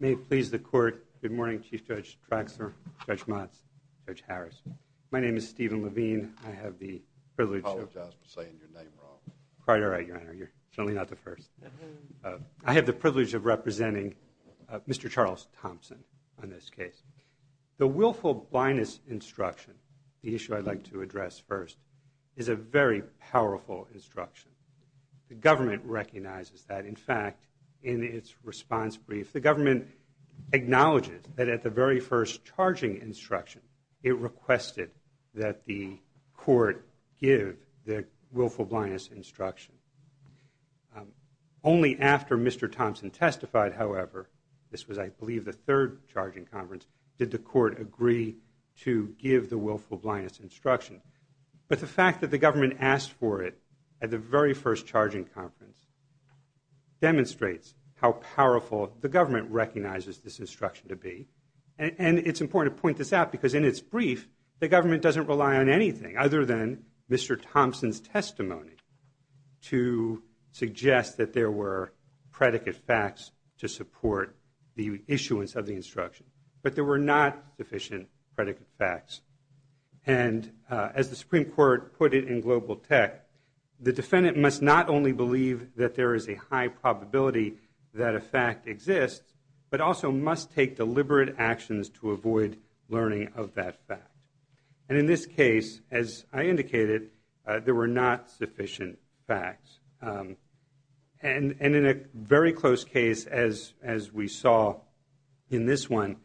May it please the court, good morning Chief Judge Traxler, Judge Motz, Judge Harris. My name is Stephen Levine. I have the privilege of... I apologize for saying your name wrong. Quite all right, Your Honor. You're certainly not the first. I have the privilege of representing Mr. Charles Thomson on this case. The willful blindness instruction, the issue I'd like to address first, is a very powerful instruction. The government recognizes that. In fact, in its response brief, the government acknowledges that at the very first charging instruction, it requested that the court give the willful blindness instruction. Only after Mr. Thomson testified, however, this was I believe the third charging conference, did the court agree to give the willful blindness instruction. But the fact that the government asked for it at the very first charging conference demonstrates how powerful the government recognizes this instruction to be. And it's important to point this out because in its brief, the government doesn't rely on anything other than Mr. Thomson's testimony to suggest that there were predicate facts to support the issuance of the instruction. But there were not sufficient predicate facts. And as the Supreme Court put it in Global Tech, the defendant must not only believe that there is a high probability that a fact exists, but also must take deliberate actions to avoid learning of that fact. And in this case, as I indicated, there were not sufficient facts. And in a very close case, as we saw in this one,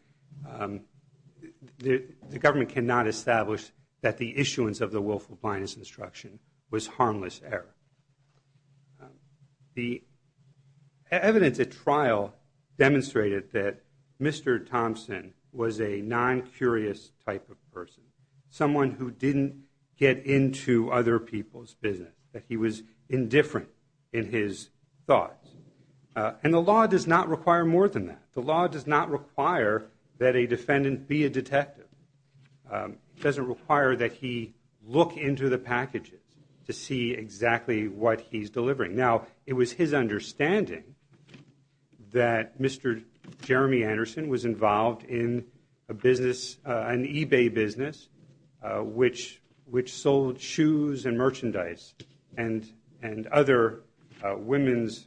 the government cannot establish that the issuance of the willful blindness instruction was harmless error. The evidence at trial demonstrated that Mr. Thomson was a non-curious type of person, someone who didn't get into other people's business, that he was indifferent in his thoughts. And the law does not require more than that. The law does not require that a defendant be a detective. It doesn't require that he look into the packages to see exactly what he's delivering. Now, it was his understanding that Mr. Jeremy Anderson was involved in a business, an eBay business, which sold shoes and merchandise and other women's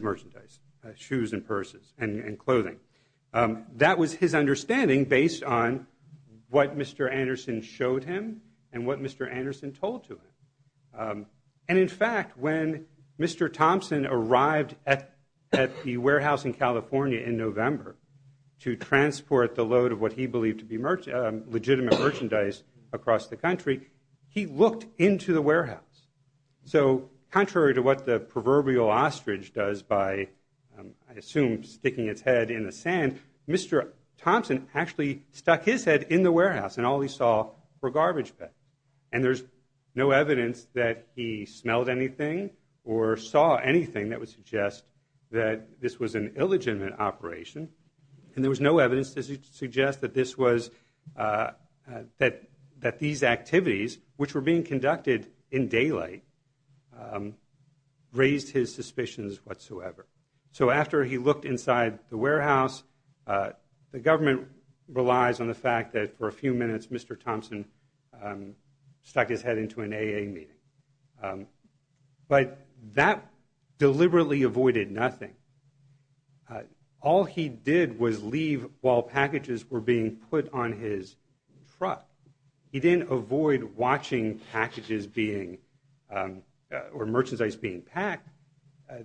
merchandise, shoes and purses and clothing. That was his understanding based on what Mr. Anderson showed him and what Mr. Anderson told to him. And in fact, when Mr. Thomson arrived at the warehouse in California in November to transport the load of what he believed to be legitimate merchandise across the country, he looked into the warehouse. So contrary to what the proverbial ostrich does by, I assume, sticking its head in the sand, Mr. Thomson actually stuck his head in the warehouse and all he saw were garbage bags. And there's no evidence that he smelled anything or saw anything that would suggest that this was an illegitimate operation. And there was no evidence to suggest that these activities, which were being conducted in daylight, raised his suspicions whatsoever. So after he looked inside the warehouse, the government relies on the fact that for a few minutes, Mr. Thomson stuck his head into an AA meeting. But that deliberately avoided nothing. All he did was leave while packages were being put on his truck. He didn't avoid watching packages being or merchandise being packed.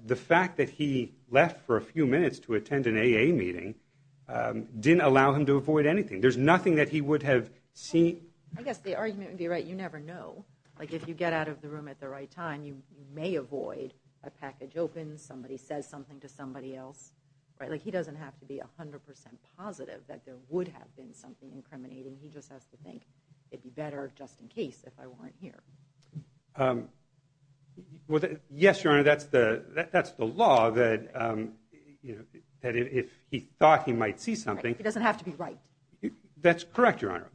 The fact that he left for a few minutes to attend an AA meeting didn't allow him to avoid anything. There's nothing that he would have seen. I guess the argument would be right. You never know. Like if you get out of the room at the right time, you may avoid a package open. Somebody says something to somebody else. Like he doesn't have to be 100 percent positive that there would have been something incriminating. He just has to think it'd be better just in case if I weren't here. Well, yes, Your Honor, that's the that's the law that, you know, that if he thought he might see something. It doesn't have to be right. That's correct, Your Honor.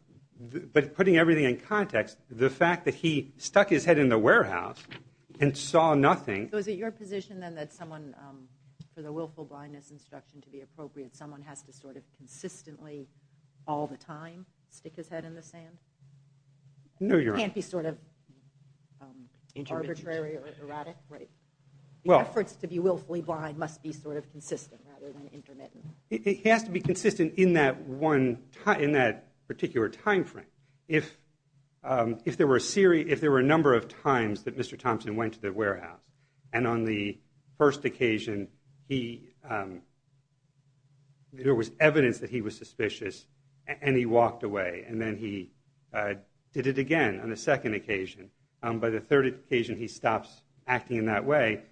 But putting everything in context, the fact that he stuck his head in the warehouse and saw nothing. Was it your position then that someone for the willful blindness instruction to be appropriate, someone has to sort of consistently all the time stick his head in the sand? No, Your Honor. It can't be sort of arbitrary or erratic, right? The efforts to be willfully blind must be sort of consistent rather than intermittent. It has to be consistent in that one in that particular time frame. If if there were a series, if there were a number of times that Mr. Thompson went to the warehouse and on the first occasion, he there was evidence that he was suspicious and he walked away and then he did it again on the second occasion. By the third occasion, he stops acting in that way.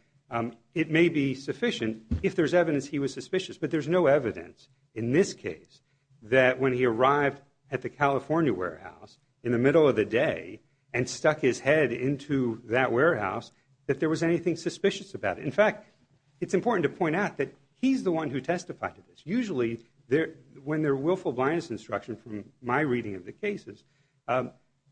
It may be sufficient if there's evidence he was suspicious, but there's no evidence in this case that when he arrived at the California warehouse in the middle of the day and stuck his head into that warehouse, that there was anything suspicious about it. In fact, it's important to point out that he's the one who testified to this. Usually there when their willful blindness instruction from my reading of the cases,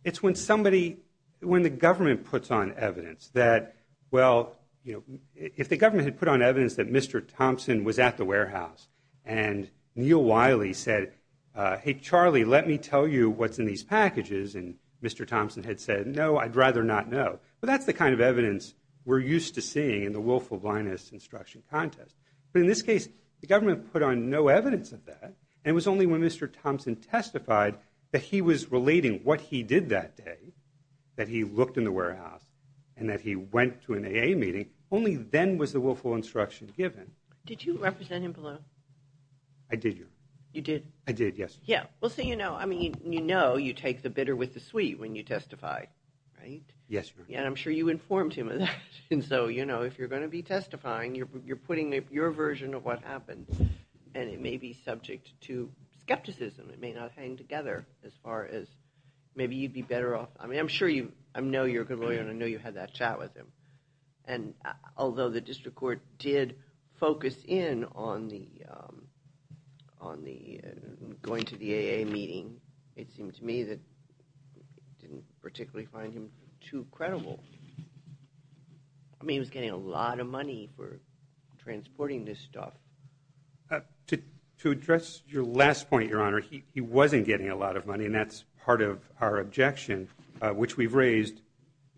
it's when somebody when the government puts on evidence that, well, you know, if the government had put on evidence that Mr. Thompson was at the warehouse and Neil Wiley said, hey, Charlie, let me tell you what's in these packages. And Mr. Thompson had said, no, I'd rather not know. But that's the kind of evidence we're used to seeing in the willful blindness instruction contest. But in this case, the government put on no evidence of that. And it was only when Mr. Thompson testified that he was relating what he did that day, that he looked in the warehouse and that he went to an AA meeting. Only then was the willful instruction given. Did you represent him below? I did. You did? I did, yes. Yeah. Well, so, you know, I mean, you know you take the bitter with the sweet when you testify, right? Yes. And I'm sure you informed him of that. And so, you know, if you're going to be testifying, you're putting your version of what happened. And it may be subject to skepticism. It may not hang together as far as maybe you'd be better off. I mean, I'm sure you – I know you're a good lawyer and I know you had that chat with him. And although the district court did focus in on the – on the going to the AA meeting, it seemed to me that it didn't particularly find him too credible. I mean, he was getting a lot of money for transporting this stuff. To address your last point, Your Honor, he wasn't getting a lot of money, and that's part of our objection, which we've raised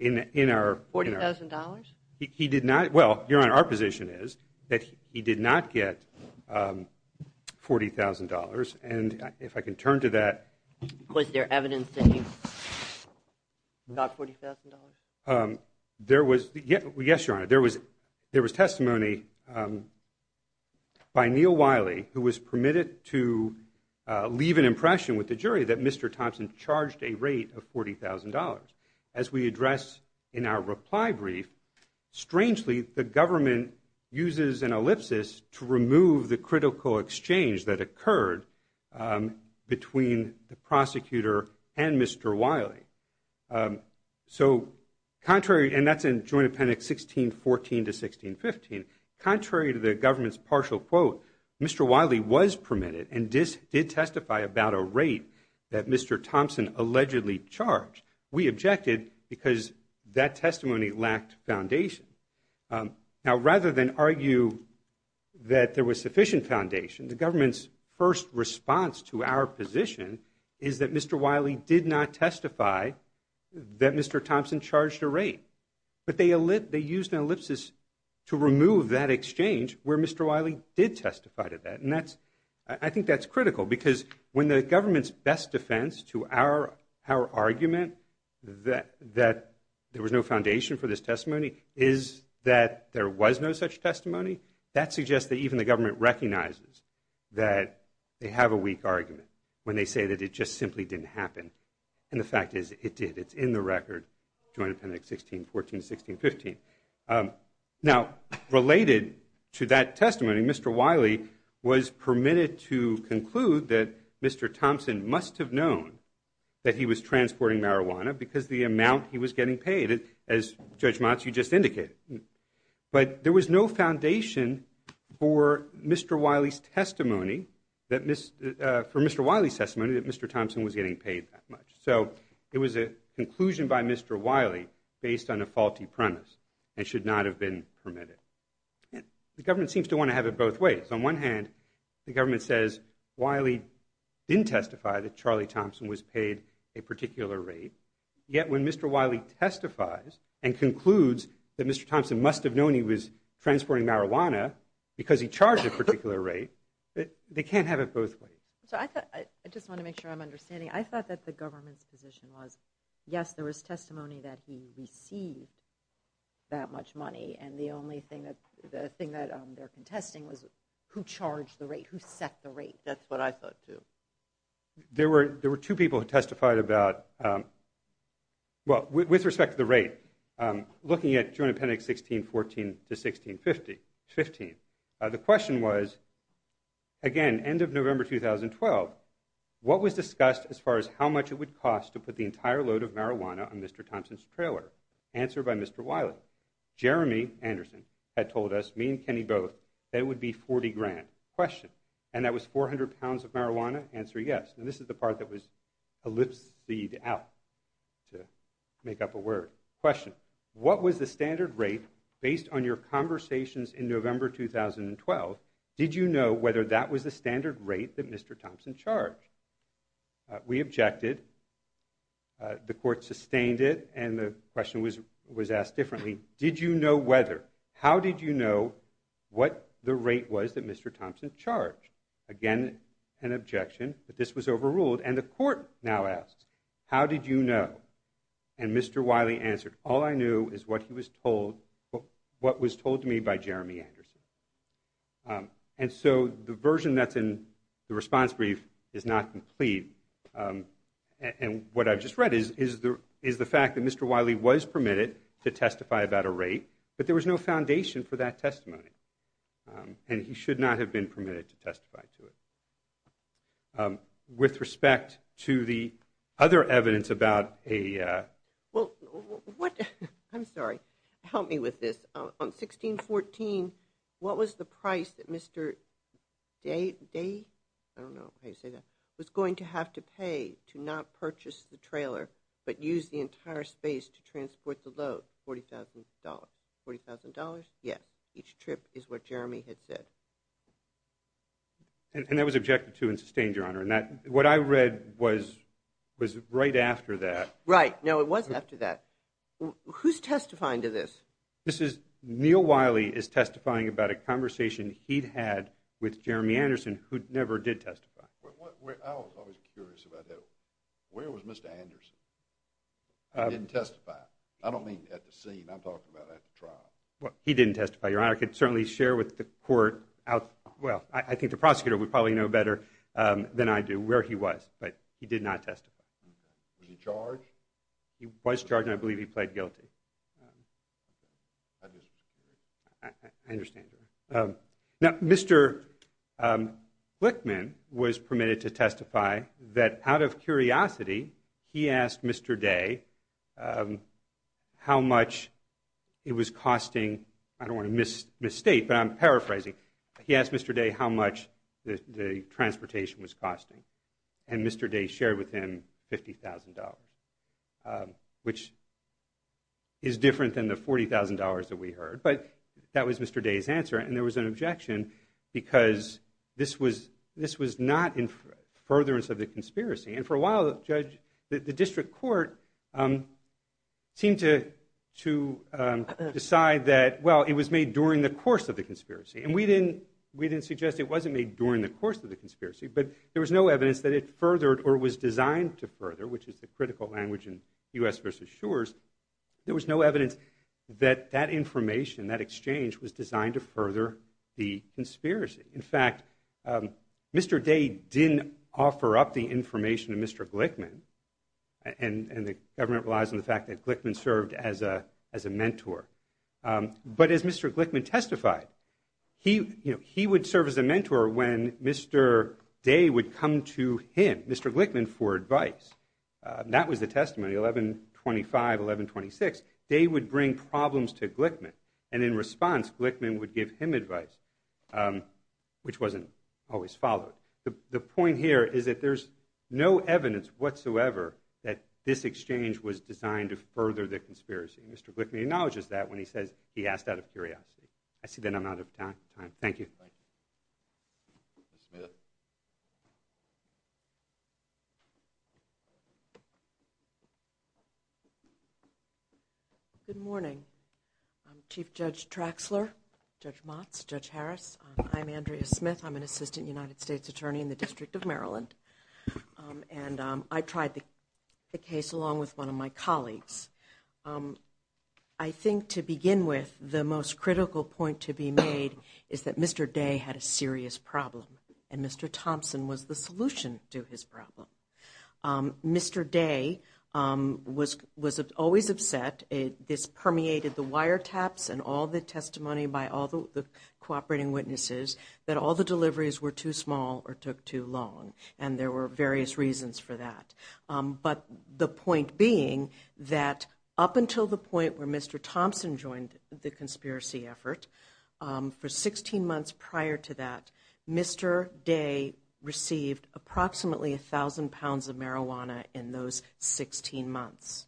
in our – $40,000? He did not – well, Your Honor, our position is that he did not get $40,000. And if I can turn to that. Was there evidence that he got $40,000? There was – yes, Your Honor, there was testimony by Neal Wiley, who was permitted to leave an impression with the jury that Mr. Thompson charged a rate of $40,000. As we address in our reply brief, strangely, the government uses an ellipsis to remove the critical exchange that occurred between the prosecutor and Mr. Wiley. So contrary – and that's in Joint Appendix 1614 to 1615. Contrary to the government's partial quote, Mr. Wiley was permitted and did testify about a rate that Mr. Thompson allegedly charged. We objected because that testimony lacked foundation. Now, rather than argue that there was sufficient foundation, the government's first response to our position is that Mr. Wiley did not testify that Mr. Thompson charged a rate. But they used an ellipsis to remove that exchange where Mr. Wiley did testify to that. And that's – I think that's critical because when the government's best defense to our argument that there was no foundation for this testimony is that there was no such testimony, that suggests that even the government recognizes that they have a weak argument when they say that it just simply didn't happen. And the fact is, it did. It's in the record, Joint Appendix 1614 to 1615. Now, related to that testimony, Mr. Wiley was permitted to conclude that Mr. Thompson must have known that he was transporting marijuana because the amount he was getting paid, as Judge Matsu just indicated. But there was no foundation for Mr. Wiley's testimony that Mr. Thompson was getting paid that much. So it was a conclusion by Mr. Wiley based on a faulty premise. It should not have been permitted. The government seems to want to have it both ways. On one hand, the government says Wiley didn't testify that Charlie Thompson was paid a particular rate. Yet when Mr. Wiley testifies and concludes that Mr. Thompson must have known he was transporting marijuana because he charged a particular rate, they can't have it both ways. I just want to make sure I'm understanding. I thought that the government's position was, yes, there was testimony that he received that much money, and the only thing that they're contesting was who charged the rate, who set the rate. That's what I thought, too. There were two people who testified about, well, with respect to the rate, looking at June appendix 1614 to 1615. The question was, again, end of November 2012, what was discussed as far as how much it would cost to put the entire load of marijuana on Mr. Thompson's trailer? Answer by Mr. Wiley. Jeremy Anderson had told us, me and Kenny both, that it would be 40 grand. Question, and that was 400 pounds of marijuana? Answer, yes. And this is the part that was ellipsed out to make up a word. Question, what was the standard rate based on your conversations in November 2012? Did you know whether that was the standard rate that Mr. Thompson charged? We objected. The court sustained it, and the question was asked differently. Did you know whether? How did you know what the rate was that Mr. Thompson charged? Again, an objection that this was overruled, and the court now asks, how did you know? And Mr. Wiley answered, all I knew is what he was told, what was told to me by Jeremy Anderson. And so the version that's in the response brief is not complete. And what I've just read is the fact that Mr. Wiley was permitted to testify about a rate, but there was no foundation for that testimony, and he should not have been permitted to testify to it. With respect to the other evidence about a ‑‑ Well, what ‑‑ I'm sorry, help me with this. On 1614, what was the price that Mr. Day, I don't know how you say that, was going to have to pay to not purchase the trailer but use the entire space to transport the load? $40,000. $40,000? Yes. Each trip is what Jeremy had said. And that was objected to and sustained, Your Honor. And what I read was right after that. Right. No, it was after that. Who's testifying to this? Neil Wiley is testifying about a conversation he'd had with Jeremy Anderson, who never did testify. I was always curious about that. Where was Mr. Anderson? He didn't testify. I don't mean at the scene. I'm talking about at the trial. He didn't testify, Your Honor. I could certainly share with the court, well, I think the prosecutor would probably know better than I do, where he was. But he did not testify. Was he charged? He was charged, and I believe he pled guilty. I understand, Your Honor. Now, Mr. Flickman was permitted to testify that out of curiosity he asked Mr. Day how much it was costing. I don't want to misstate, but I'm paraphrasing. He asked Mr. Day how much the transportation was costing. And Mr. Day shared with him $50,000, which is different than the $40,000 that we heard. But that was Mr. Day's answer, and there was an objection because this was not in furtherance of the conspiracy. And for a while, the district court seemed to decide that, well, it was made during the course of the conspiracy. And we didn't suggest it wasn't made during the course of the conspiracy. But there was no evidence that it furthered or was designed to further, which is the critical language in U.S. v. Shures. There was no evidence that that information, that exchange, was designed to further the conspiracy. In fact, Mr. Day didn't offer up the information to Mr. Glickman, and the government relies on the fact that Glickman served as a mentor. But as Mr. Glickman testified, he would serve as a mentor when Mr. Day would come to him, Mr. Glickman, for advice. That was the testimony, 1125, 1126. Day would bring problems to Glickman, and in response, Glickman would give him advice, which wasn't always followed. The point here is that there's no evidence whatsoever that this exchange was designed to further the conspiracy. Mr. Glickman acknowledges that when he says he asked out of curiosity. I see that I'm out of time. Thank you. Thank you. Ms. Smith. Good morning. I'm Chief Judge Traxler, Judge Motz, Judge Harris. I'm Andrea Smith. I'm an assistant United States attorney in the District of Maryland. And I tried the case along with one of my colleagues. I think to begin with, the most critical point to be made is that Mr. Day had a serious problem, and Mr. Thompson was the solution to his problem. Mr. Day was always upset. This permeated the wiretaps and all the testimony by all the cooperating witnesses that all the deliveries were too small or took too long. And there were various reasons for that. But the point being that up until the point where Mr. Thompson joined the conspiracy effort, for 16 months prior to that, Mr. Day received approximately 1,000 pounds of marijuana in those 16 months.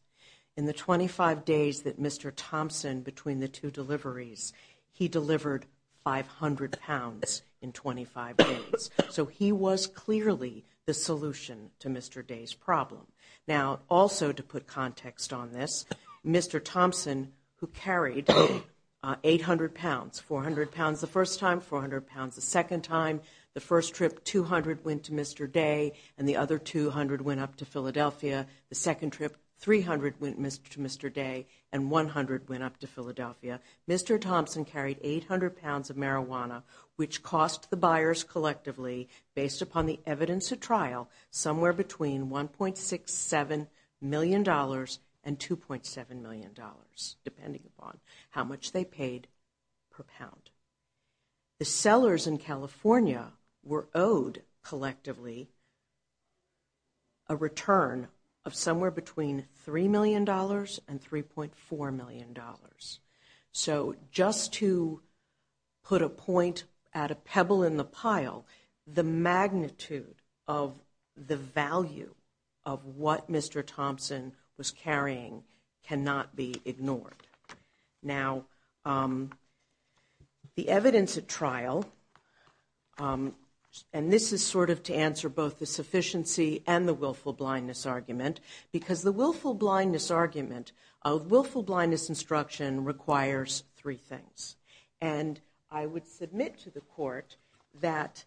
In the 25 days that Mr. Thompson, between the two deliveries, he delivered 500 pounds in 25 days. So he was clearly the solution to Mr. Day's problem. Now, also to put context on this, Mr. Thompson, who carried 800 pounds, 400 pounds the first time, 400 pounds the second time, the first trip, 200 went to Mr. Day, and the other 200 went up to Philadelphia. The second trip, 300 went to Mr. Day, and 100 went up to Philadelphia. Mr. Thompson carried 800 pounds of marijuana, which cost the buyers collectively, based upon the evidence at trial, somewhere between $1.67 million and $2.7 million, depending upon how much they paid per pound. The sellers in California were owed collectively a return of somewhere between $3 million and $3.4 million. So just to put a point at a pebble in the pile, the magnitude of the value of what Mr. Thompson was carrying cannot be ignored. Now, the evidence at trial, and this is sort of to answer both the sufficiency and the willful blindness argument, because the willful blindness argument of willful blindness instruction requires three things. And I would submit to the court that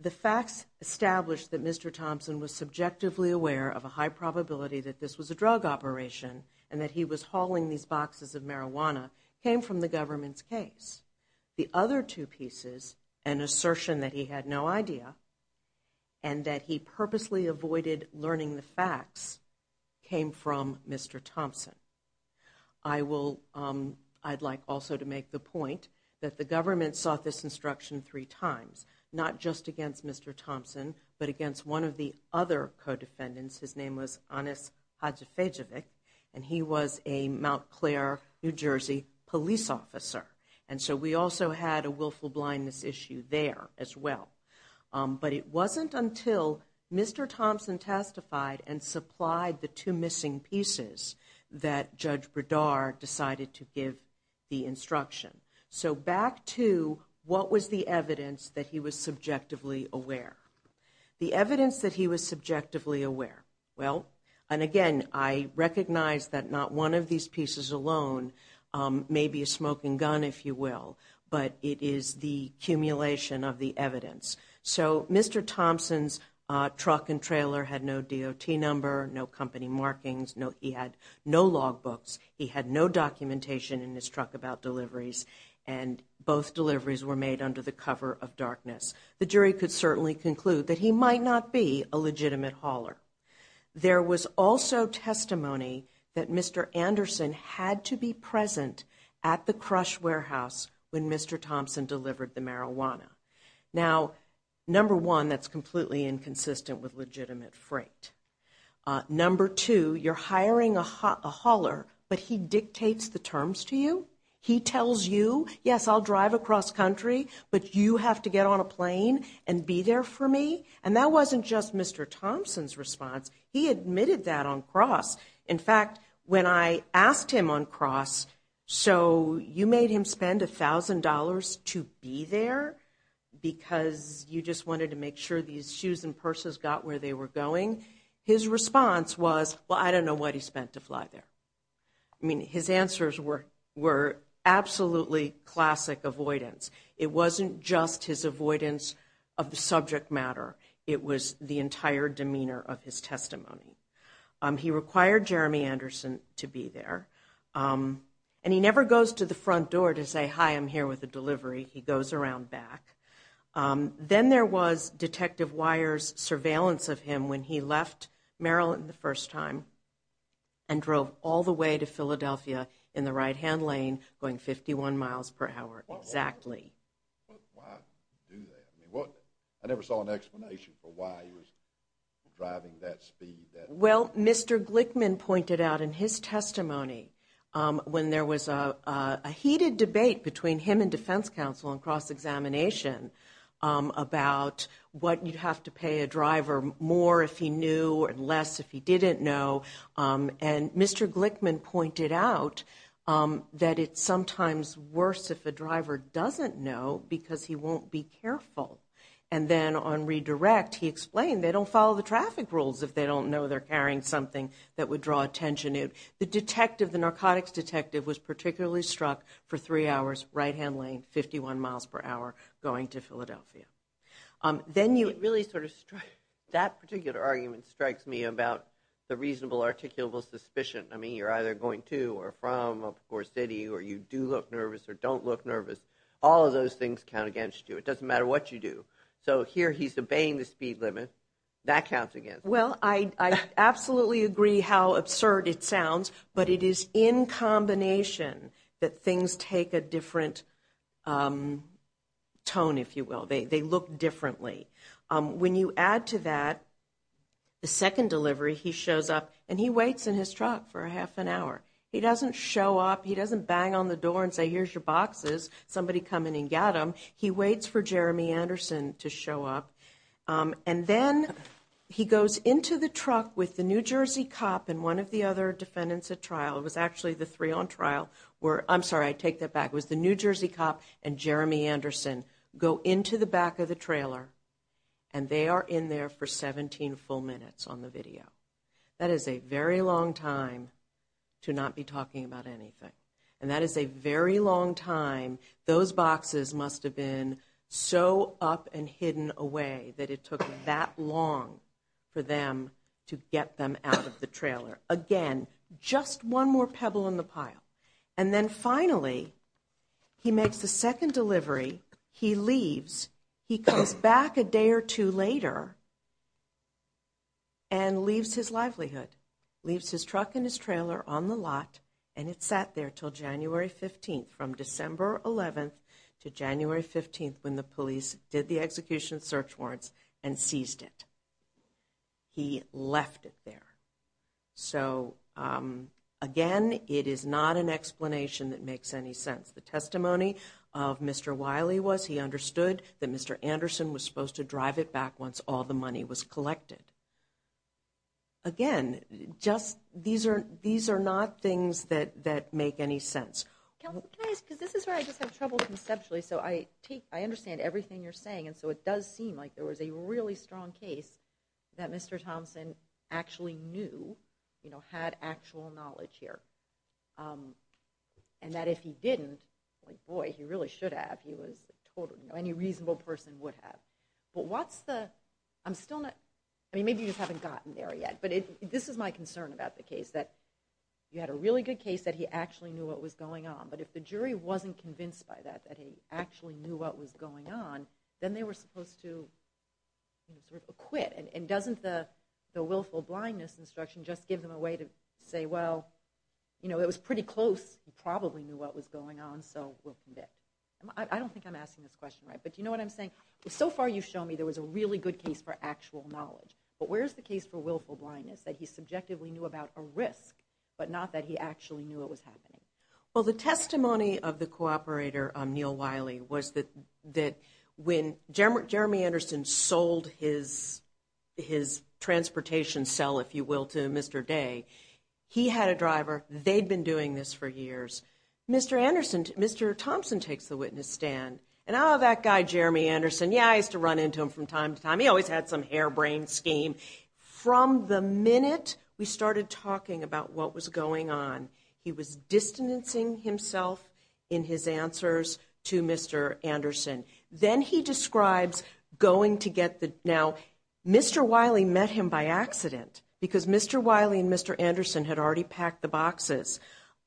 the facts establish that Mr. Thompson was subjectively aware of a high probability that this was a drug operation and that he was hauling these boxes of marijuana came from the government's case. The other two pieces, an assertion that he had no idea and that he purposely avoided learning the facts, came from Mr. Thompson. I'd like also to make the point that the government sought this instruction three times, not just against Mr. Thompson, but against one of the other co-defendants. His name was Anas Hadjifejavic, and he was a Mount Claire, New Jersey, police officer. And so we also had a willful blindness issue there as well. But it wasn't until Mr. Thompson testified and supplied the two missing pieces that Judge Bredar decided to give the instruction. So back to what was the evidence that he was subjectively aware. The evidence that he was subjectively aware. Well, and again, I recognize that not one of these pieces alone may be a smoking gun, if you will, but it is the accumulation of the evidence. So Mr. Thompson's truck and trailer had no DOT number, no company markings, he had no log books, he had no documentation in his truck about deliveries, and both deliveries were made under the cover of darkness. The jury could certainly conclude that he might not be a legitimate hauler. There was also testimony that Mr. Anderson had to be present at the Crush Warehouse when Mr. Thompson delivered the marijuana. Now, number one, that's completely inconsistent with legitimate freight. Number two, you're hiring a hauler, but he dictates the terms to you. He tells you, yes, I'll drive across country, but you have to get on a plane and be there for me. And that wasn't just Mr. Thompson's response. He admitted that on cross. In fact, when I asked him on cross, so you made him spend $1,000 to be there because you just wanted to make sure these shoes and purses got where they were going. His response was, well, I don't know what he spent to fly there. I mean, his answers were absolutely classic avoidance. It wasn't just his avoidance of the subject matter. It was the entire demeanor of his testimony. He required Jeremy Anderson to be there, and he never goes to the front door to say, hi, I'm here with a delivery. He goes around back. Then there was Detective Weyer's surveillance of him when he left Maryland the first time and drove all the way to Philadelphia in the right-hand lane going 51 miles per hour exactly. Why do that? I never saw an explanation for why he was driving that speed. Well, Mr. Glickman pointed out in his testimony when there was a heated debate between him and defense counsel on cross-examination about what you'd have to pay a driver more if he knew and less if he didn't know. And Mr. Glickman pointed out that it's sometimes worse if a driver doesn't know because he won't be careful. And then on redirect, he explained they don't follow the traffic rules if they don't know they're carrying something that would draw attention. The detective, the narcotics detective, was particularly struck for three hours, right-hand lane, 51 miles per hour going to Philadelphia. Then you really sort of strike, that particular argument strikes me about the reasonable articulable suspicion. I mean, you're either going to or from or city or you do look nervous or don't look nervous. All of those things count against you. It doesn't matter what you do. So here he's obeying the speed limit. That counts against him. Well, I absolutely agree how absurd it sounds, but it is in combination that things take a different tone, if you will. They look differently. When you add to that the second delivery, he shows up and he waits in his truck for a half an hour. He doesn't show up. He doesn't bang on the door and say, here's your boxes. Somebody come in and get them. He waits for Jeremy Anderson to show up. And then he goes into the truck with the New Jersey cop and one of the other defendants at trial. It was actually the three on trial. I'm sorry, I take that back. It was the New Jersey cop and Jeremy Anderson go into the back of the trailer and they are in there for 17 full minutes on the video. That is a very long time to not be talking about anything. And that is a very long time. Those boxes must have been so up and hidden away that it took that long for them to get them out of the trailer. Again, just one more pebble in the pile. And then finally, he makes the second delivery. He leaves. He comes back a day or two later and leaves his livelihood. Leaves his truck and his trailer on the lot and it sat there until January 15th. From December 11th to January 15th when the police did the execution search warrants and seized it. He left it there. So, again, it is not an explanation that makes any sense. The testimony of Mr. Wiley was he understood that Mr. Anderson was supposed to drive it back once all the money was collected. Again, these are not things that make any sense. Counsel, can I ask, because this is where I just have trouble conceptually, so I understand everything you are saying. And so it does seem like there was a really strong case that Mr. Thompson actually knew, had actual knowledge here. And that if he didn't, boy, he really should have. Any reasonable person would have. But what's the, I'm still not, I mean, maybe you just haven't gotten there yet. But this is my concern about the case, that you had a really good case that he actually knew what was going on. But if the jury wasn't convinced by that, that he actually knew what was going on, then they were supposed to sort of acquit. And doesn't the willful blindness instruction just give them a way to say, well, you know, it was pretty close. He probably knew what was going on, so we'll commit. I don't think I'm asking this question right. But do you know what I'm saying? So far you've shown me there was a really good case for actual knowledge. But where's the case for willful blindness, that he subjectively knew about a risk, but not that he actually knew it was happening? Well, the testimony of the cooperator, Neil Wiley, was that when Jeremy Anderson sold his transportation cell, if you will, to Mr. Day, he had a driver, they'd been doing this for years. Mr. Thompson takes the witness stand, and oh, that guy Jeremy Anderson, yeah, I used to run into him from time to time. He always had some harebrained scheme. From the minute we started talking about what was going on, he was distancing himself in his answers to Mr. Anderson. Then he describes going to get the, now, Mr. Wiley met him by accident, because Mr. Wiley and Mr. Anderson had already packed the boxes.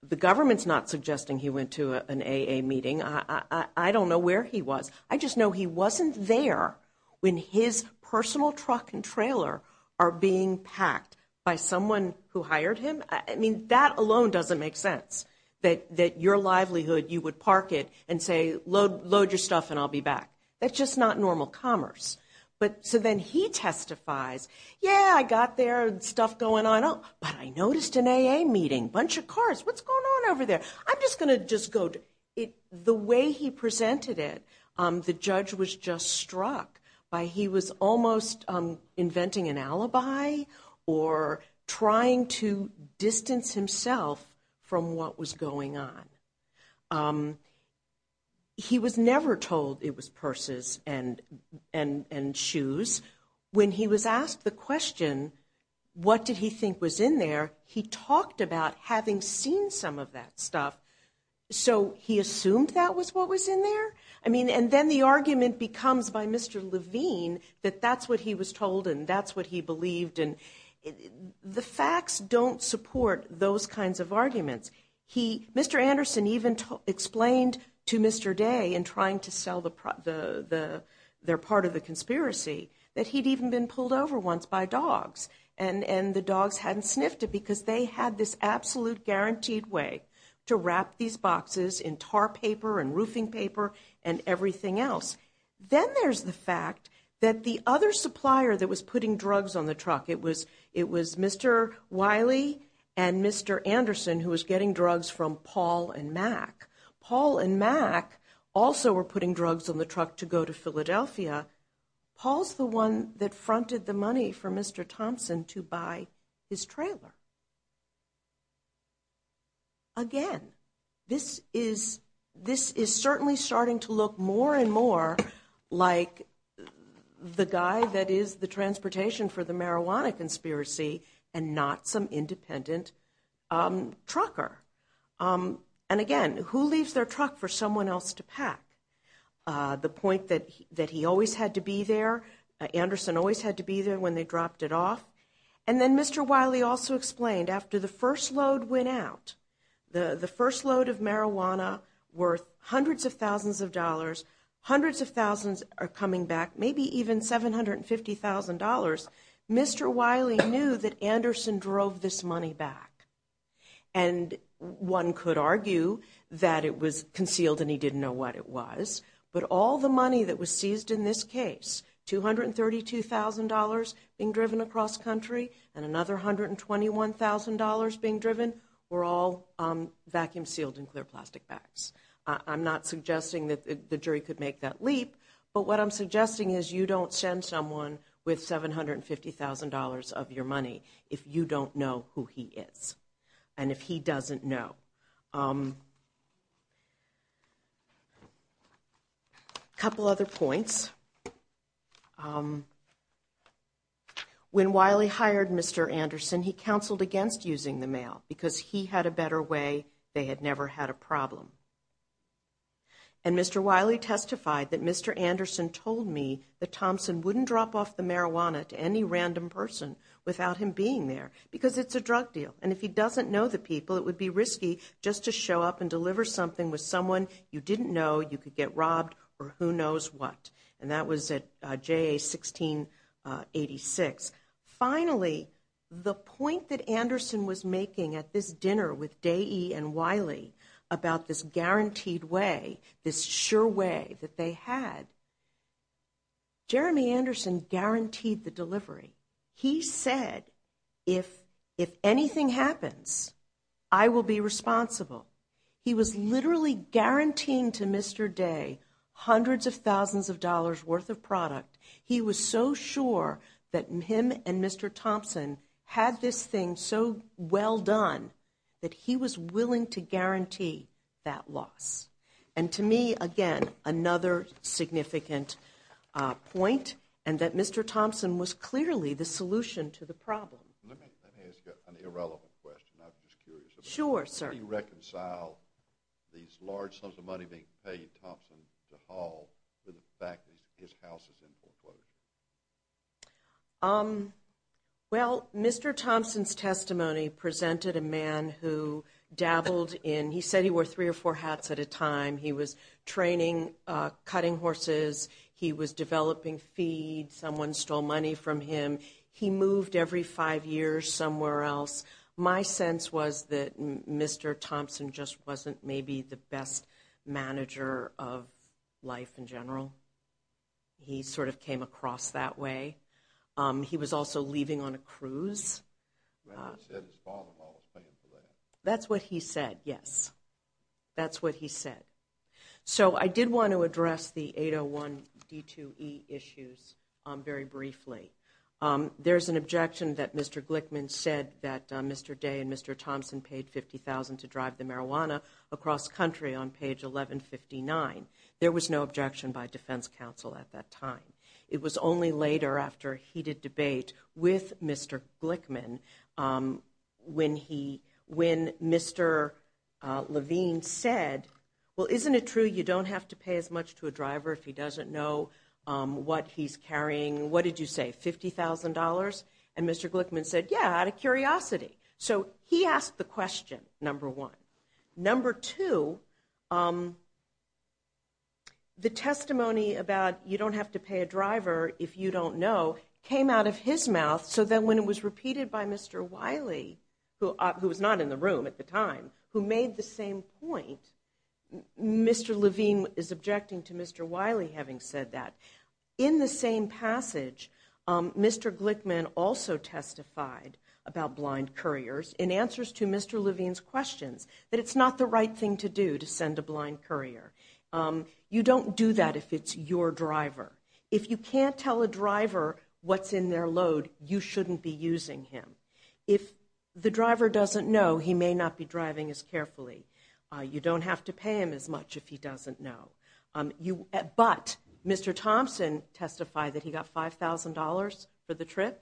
The government's not suggesting he went to an AA meeting. I don't know where he was. I just know he wasn't there when his personal truck and trailer are being packed by someone who hired him. I mean, that alone doesn't make sense, that your livelihood, you would park it and say, load your stuff and I'll be back. That's just not normal commerce. So then he testifies, yeah, I got there, stuff going on, but I noticed an AA meeting, bunch of cars, what's going on over there? I'm just going to just go. The way he presented it, the judge was just struck by he was almost inventing an alibi or trying to distance himself from what was going on. He was never told it was purses and shoes. When he was asked the question, what did he think was in there, he talked about having seen some of that stuff. So he assumed that was what was in there? I mean, and then the argument becomes by Mr. Levine that that's what he was told and that's what he believed. And the facts don't support those kinds of arguments. Mr. Anderson even explained to Mr. Day in trying to sell their part of the conspiracy that he'd even been pulled over once by dogs. And the dogs hadn't sniffed it because they had this absolute guaranteed way to wrap these boxes in tar paper and roofing paper and everything else. Then there's the fact that the other supplier that was putting drugs on the truck, it was Mr. Wiley and Mr. Anderson who was getting drugs from Paul and Mac. Paul and Mac also were putting drugs on the truck to go to Philadelphia. Paul's the one that fronted the money for Mr. Thompson to buy his trailer. Again, this is certainly starting to look more and more like the guy that is the transportation for the marijuana conspiracy and not some independent trucker. And again, who leaves their truck for someone else to pack? The point that he always had to be there, Anderson always had to be there when they dropped it off. And then Mr. Wiley also explained after the first load went out, the first load of marijuana worth hundreds of thousands of dollars, hundreds of thousands are coming back, maybe even $750,000. Mr. Wiley knew that Anderson drove this money back. And one could argue that it was concealed and he didn't know what it was. But all the money that was seized in this case, $232,000 being driven across country and another $121,000 being driven were all vacuum sealed in clear plastic bags. I'm not suggesting that the jury could make that leap. But what I'm suggesting is you don't send someone with $750,000 of your money if you don't know who he is and if he doesn't know. A couple other points. When Wiley hired Mr. Anderson, he counseled against using the mail because he had a better way. They had never had a problem. And Mr. Wiley testified that Mr. Anderson told me that Thompson wouldn't drop off the marijuana to any random person without him being there because it's a drug deal. And if he doesn't know the people, it would be risky just to show up and deliver something with someone you didn't know, you could get robbed, or who knows what. And that was at JA 1686. Finally, the point that Anderson was making at this dinner with Dei and Wiley about this guaranteed way, this sure way that they had, Jeremy Anderson guaranteed the delivery. He said, if anything happens, I will be responsible. He was literally guaranteeing to Mr. Dei hundreds of thousands of dollars worth of product. He was so sure that him and Mr. Thompson had this thing so well done that he was willing to guarantee that loss. And to me, again, another significant point, and that Mr. Thompson was clearly the solution to the problem. Let me ask you an irrelevant question. I'm just curious. Sure, sir. How do you reconcile these large sums of money being paid Thompson to haul to the fact that his house is in foreclosure? Well, Mr. Thompson's testimony presented a man who dabbled in, he said he wore three or four hats at a time. He was training cutting horses. He was developing feeds. Someone stole money from him. He moved every five years somewhere else. My sense was that Mr. Thompson just wasn't maybe the best manager of life in general. He sort of came across that way. He was also leaving on a cruise. He said his father-in-law was paying for that. That's what he said, yes. That's what he said. So I did want to address the 801 D2E issues very briefly. There's an objection that Mr. Glickman said that Mr. Dei and Mr. Thompson paid $50,000 to drive the marijuana across country on page 1159. There was no objection by defense counsel at that time. It was only later after a heated debate with Mr. Glickman when Mr. Levine said, well, isn't it true you don't have to pay as much to a driver if he doesn't know what he's carrying? What did you say, $50,000? And Mr. Glickman said, yeah, out of curiosity. So he asked the question, number one. Number two, the testimony about you don't have to pay a driver if you don't know came out of his mouth. So then when it was repeated by Mr. Wiley, who was not in the room at the time, who made the same point, Mr. Levine is objecting to Mr. Wiley having said that. In the same passage, Mr. Glickman also testified about blind couriers in answers to Mr. Levine's questions that it's not the right thing to do to send a blind courier. You don't do that if it's your driver. If you can't tell a driver what's in their load, you shouldn't be using him. If the driver doesn't know, he may not be driving as carefully. You don't have to pay him as much if he doesn't know. But Mr. Thompson testified that he got $5,000 for the trip,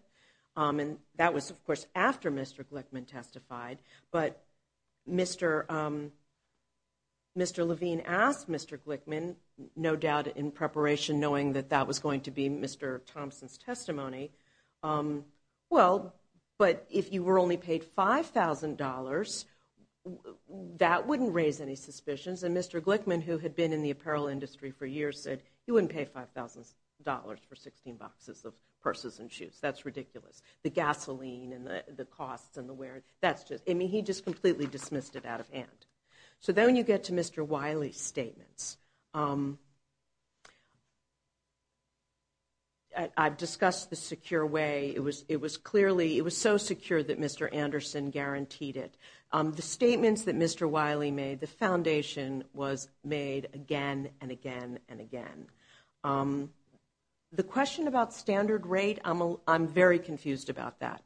and that was, of course, after Mr. Glickman testified. But Mr. Levine asked Mr. Glickman, no doubt in preparation, knowing that that was going to be Mr. Thompson's testimony, well, but if you were only paid $5,000, that wouldn't raise any suspicions. And Mr. Glickman, who had been in the apparel industry for years, said he wouldn't pay $5,000 for 16 boxes of purses and shoes. That's ridiculous. The gasoline and the costs and the wear. I mean, he just completely dismissed it out of hand. So then when you get to Mr. Wiley's statements, I've discussed the secure way. It was so secure that Mr. Anderson guaranteed it. The statements that Mr. Wiley made, the foundation was made again and again and again. The question about standard rate, I'm very confused about that.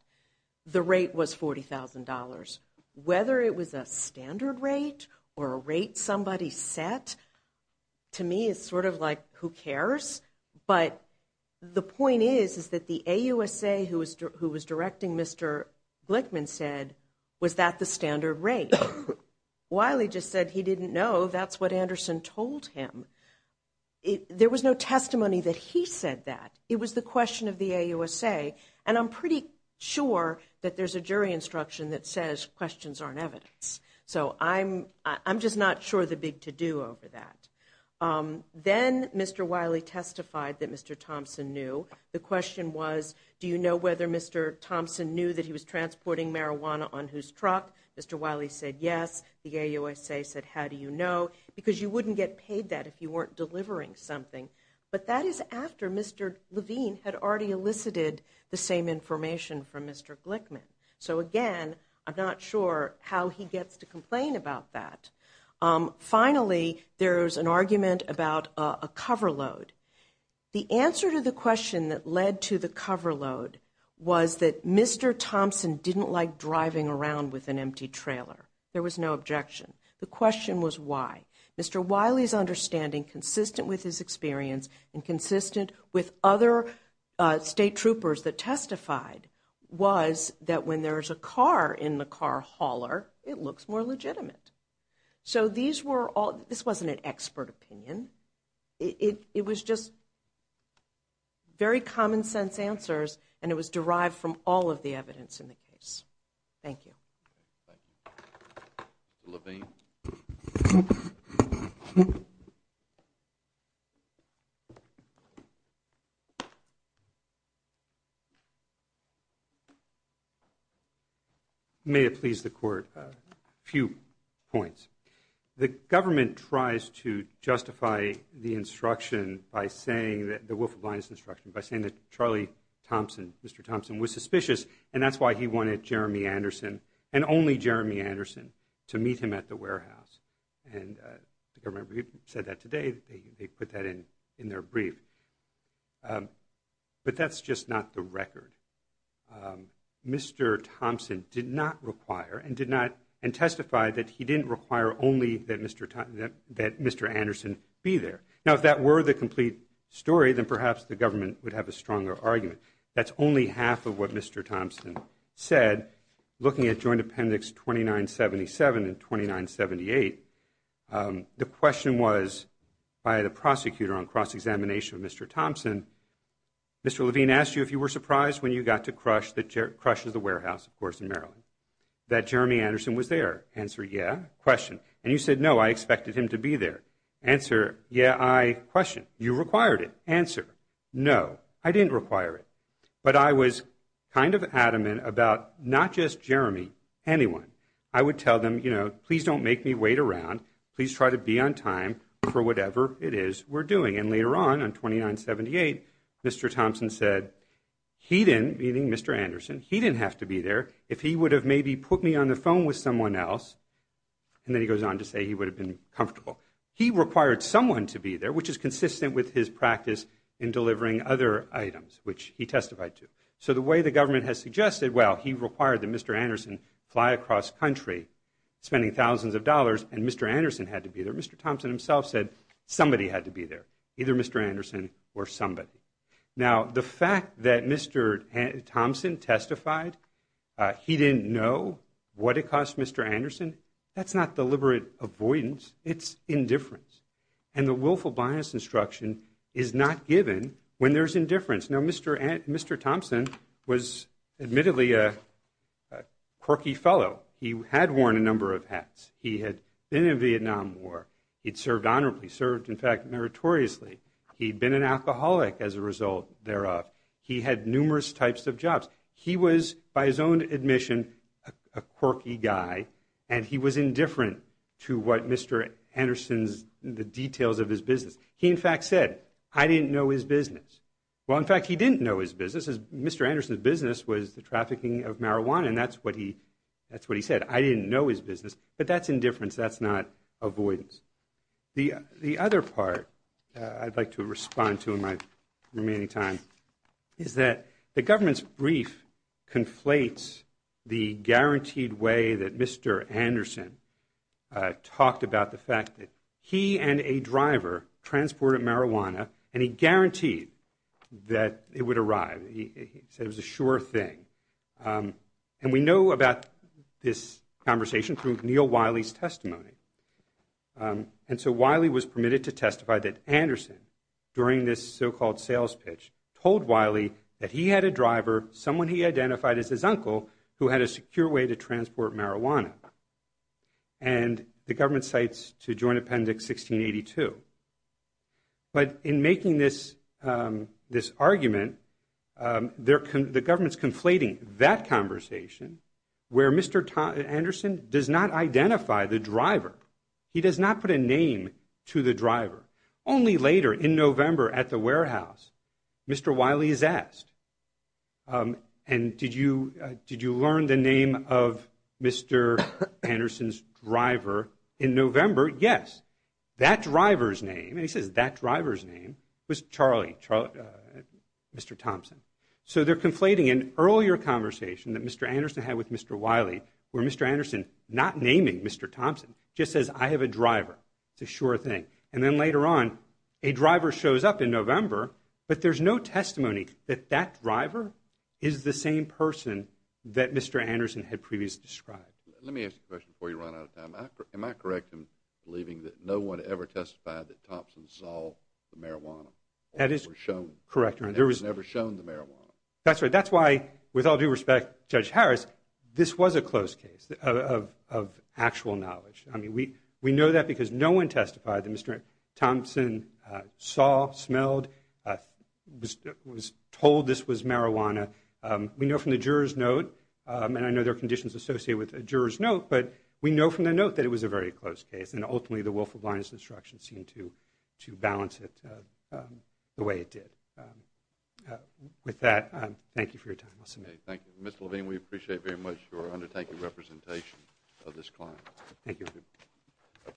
The rate was $40,000. Whether it was a standard rate or a rate somebody set, to me it's sort of like, who cares? But the point is, is that the AUSA who was directing Mr. Glickman said, was that the standard rate? Wiley just said he didn't know. That's what Anderson told him. There was no testimony that he said that. It was the question of the AUSA. And I'm pretty sure that there's a jury instruction that says questions aren't evidence. So I'm just not sure of the big to-do over that. Then Mr. Wiley testified that Mr. Thompson knew. The question was, do you know whether Mr. Thompson knew that he was transporting marijuana on whose truck? Mr. Wiley said yes. The AUSA said, how do you know? Because you wouldn't get paid that if you weren't delivering something. But that is after Mr. Levine had already elicited the same information from Mr. Glickman. So again, I'm not sure how he gets to complain about that. Finally, there's an argument about a cover load. The answer to the question that led to the cover load was that Mr. Thompson didn't like driving around with an empty trailer. There was no objection. The question was why. Mr. Wiley's understanding, consistent with his experience and consistent with other state troopers that testified, was that when there's a car in the car hauler, it looks more legitimate. So these were all-this wasn't an expert opinion. It was just very common sense answers, and it was derived from all of the evidence in the case. Thank you. Thank you. Mr. Levine. May it please the Court. A few points. The government tries to justify the instruction by saying that the Wolf of Linus instruction, by saying that Charlie Thompson, Mr. Thompson, was suspicious, and that's why he wanted Jeremy Anderson, and only Jeremy Anderson, to meet him at the warehouse. And the government said that today. They put that in their brief. But that's just not the record. Mr. Thompson did not require and did not-and testified that he didn't require only that Mr. Anderson be there. Now, if that were the complete story, then perhaps the government would have a stronger argument. That's only half of what Mr. Thompson said. Looking at Joint Appendix 2977 and 2978, the question was, by the prosecutor on cross-examination of Mr. Thompson, Mr. Levine asked you if you were surprised when you got to crush the warehouse, of course, in Maryland, that Jeremy Anderson was there. Answer, yeah. Question. And you said, no, I expected him to be there. Answer, yeah, I-question. You required it. Answer, no, I didn't require it. But I was kind of adamant about not just Jeremy, anyone. I would tell them, you know, please don't make me wait around. Please try to be on time for whatever it is we're doing. And later on, on 2978, Mr. Thompson said he didn't, meaning Mr. Anderson, he didn't have to be there if he would have maybe put me on the phone with someone else. And then he goes on to say he would have been comfortable. He required someone to be there, which is consistent with his practice in delivering other items, which he testified to. So the way the government has suggested, well, he required that Mr. Anderson fly across country, spending thousands of dollars, and Mr. Anderson had to be there. Mr. Thompson himself said somebody had to be there, either Mr. Anderson or somebody. Now, the fact that Mr. Thompson testified he didn't know what it cost Mr. Anderson, that's not deliberate avoidance. It's indifference. And the willful bias instruction is not given when there's indifference. Now, Mr. Thompson was admittedly a quirky fellow. He had worn a number of hats. He had been in Vietnam War. He had served honorably, served, in fact, meritoriously. He had been an alcoholic as a result thereof. He had numerous types of jobs. He was, by his own admission, a quirky guy, and he was indifferent to what Mr. Anderson's, the details of his business. He, in fact, said, I didn't know his business. Well, in fact, he didn't know his business. Mr. Anderson's business was the trafficking of marijuana, and that's what he said. I didn't know his business, but that's indifference. That's not avoidance. The other part I'd like to respond to in my remaining time is that the government's brief conflates the guaranteed way that Mr. Anderson talked about the fact that he and a driver transported marijuana, and he guaranteed that it would arrive. He said it was a sure thing. And we know about this conversation through Neal Wiley's testimony, and so Wiley was permitted to testify that Anderson, during this so-called sales pitch, told Wiley that he had a driver, someone he identified as his uncle, who had a secure way to transport marijuana, and the government cites to Joint Appendix 1682. But in making this argument, the government's conflating that conversation where Mr. Anderson does not identify the driver. He does not put a name to the driver. Only later, in November, at the warehouse, Mr. Wiley is asked, and did you learn the name of Mr. Anderson's driver in November? Yes. That driver's name, and he says that driver's name, was Charlie, Mr. Thompson. So they're conflating an earlier conversation that Mr. Anderson had with Mr. Wiley, where Mr. Anderson, not naming Mr. Thompson, just says, I have a driver. It's a sure thing. And then later on, a driver shows up in November, but there's no testimony that that driver is the same person that Mr. Anderson had previously described. Let me ask you a question before you run out of time. Am I correct in believing that no one ever testified that Thompson saw the marijuana? That is correct. Or was never shown the marijuana? That's right. That's why, with all due respect, Judge Harris, this was a close case of actual knowledge. I mean, we know that because no one testified that Mr. Thompson saw, smelled, was told this was marijuana. We know from the juror's note, and I know there are conditions associated with a juror's note, but we know from the note that it was a very close case. And ultimately, the willful blindness instruction seemed to balance it the way it did. With that, thank you for your time. I'll submit. Thank you. Mr. Levine, we appreciate very much your undertaking representation of this client. Thank you.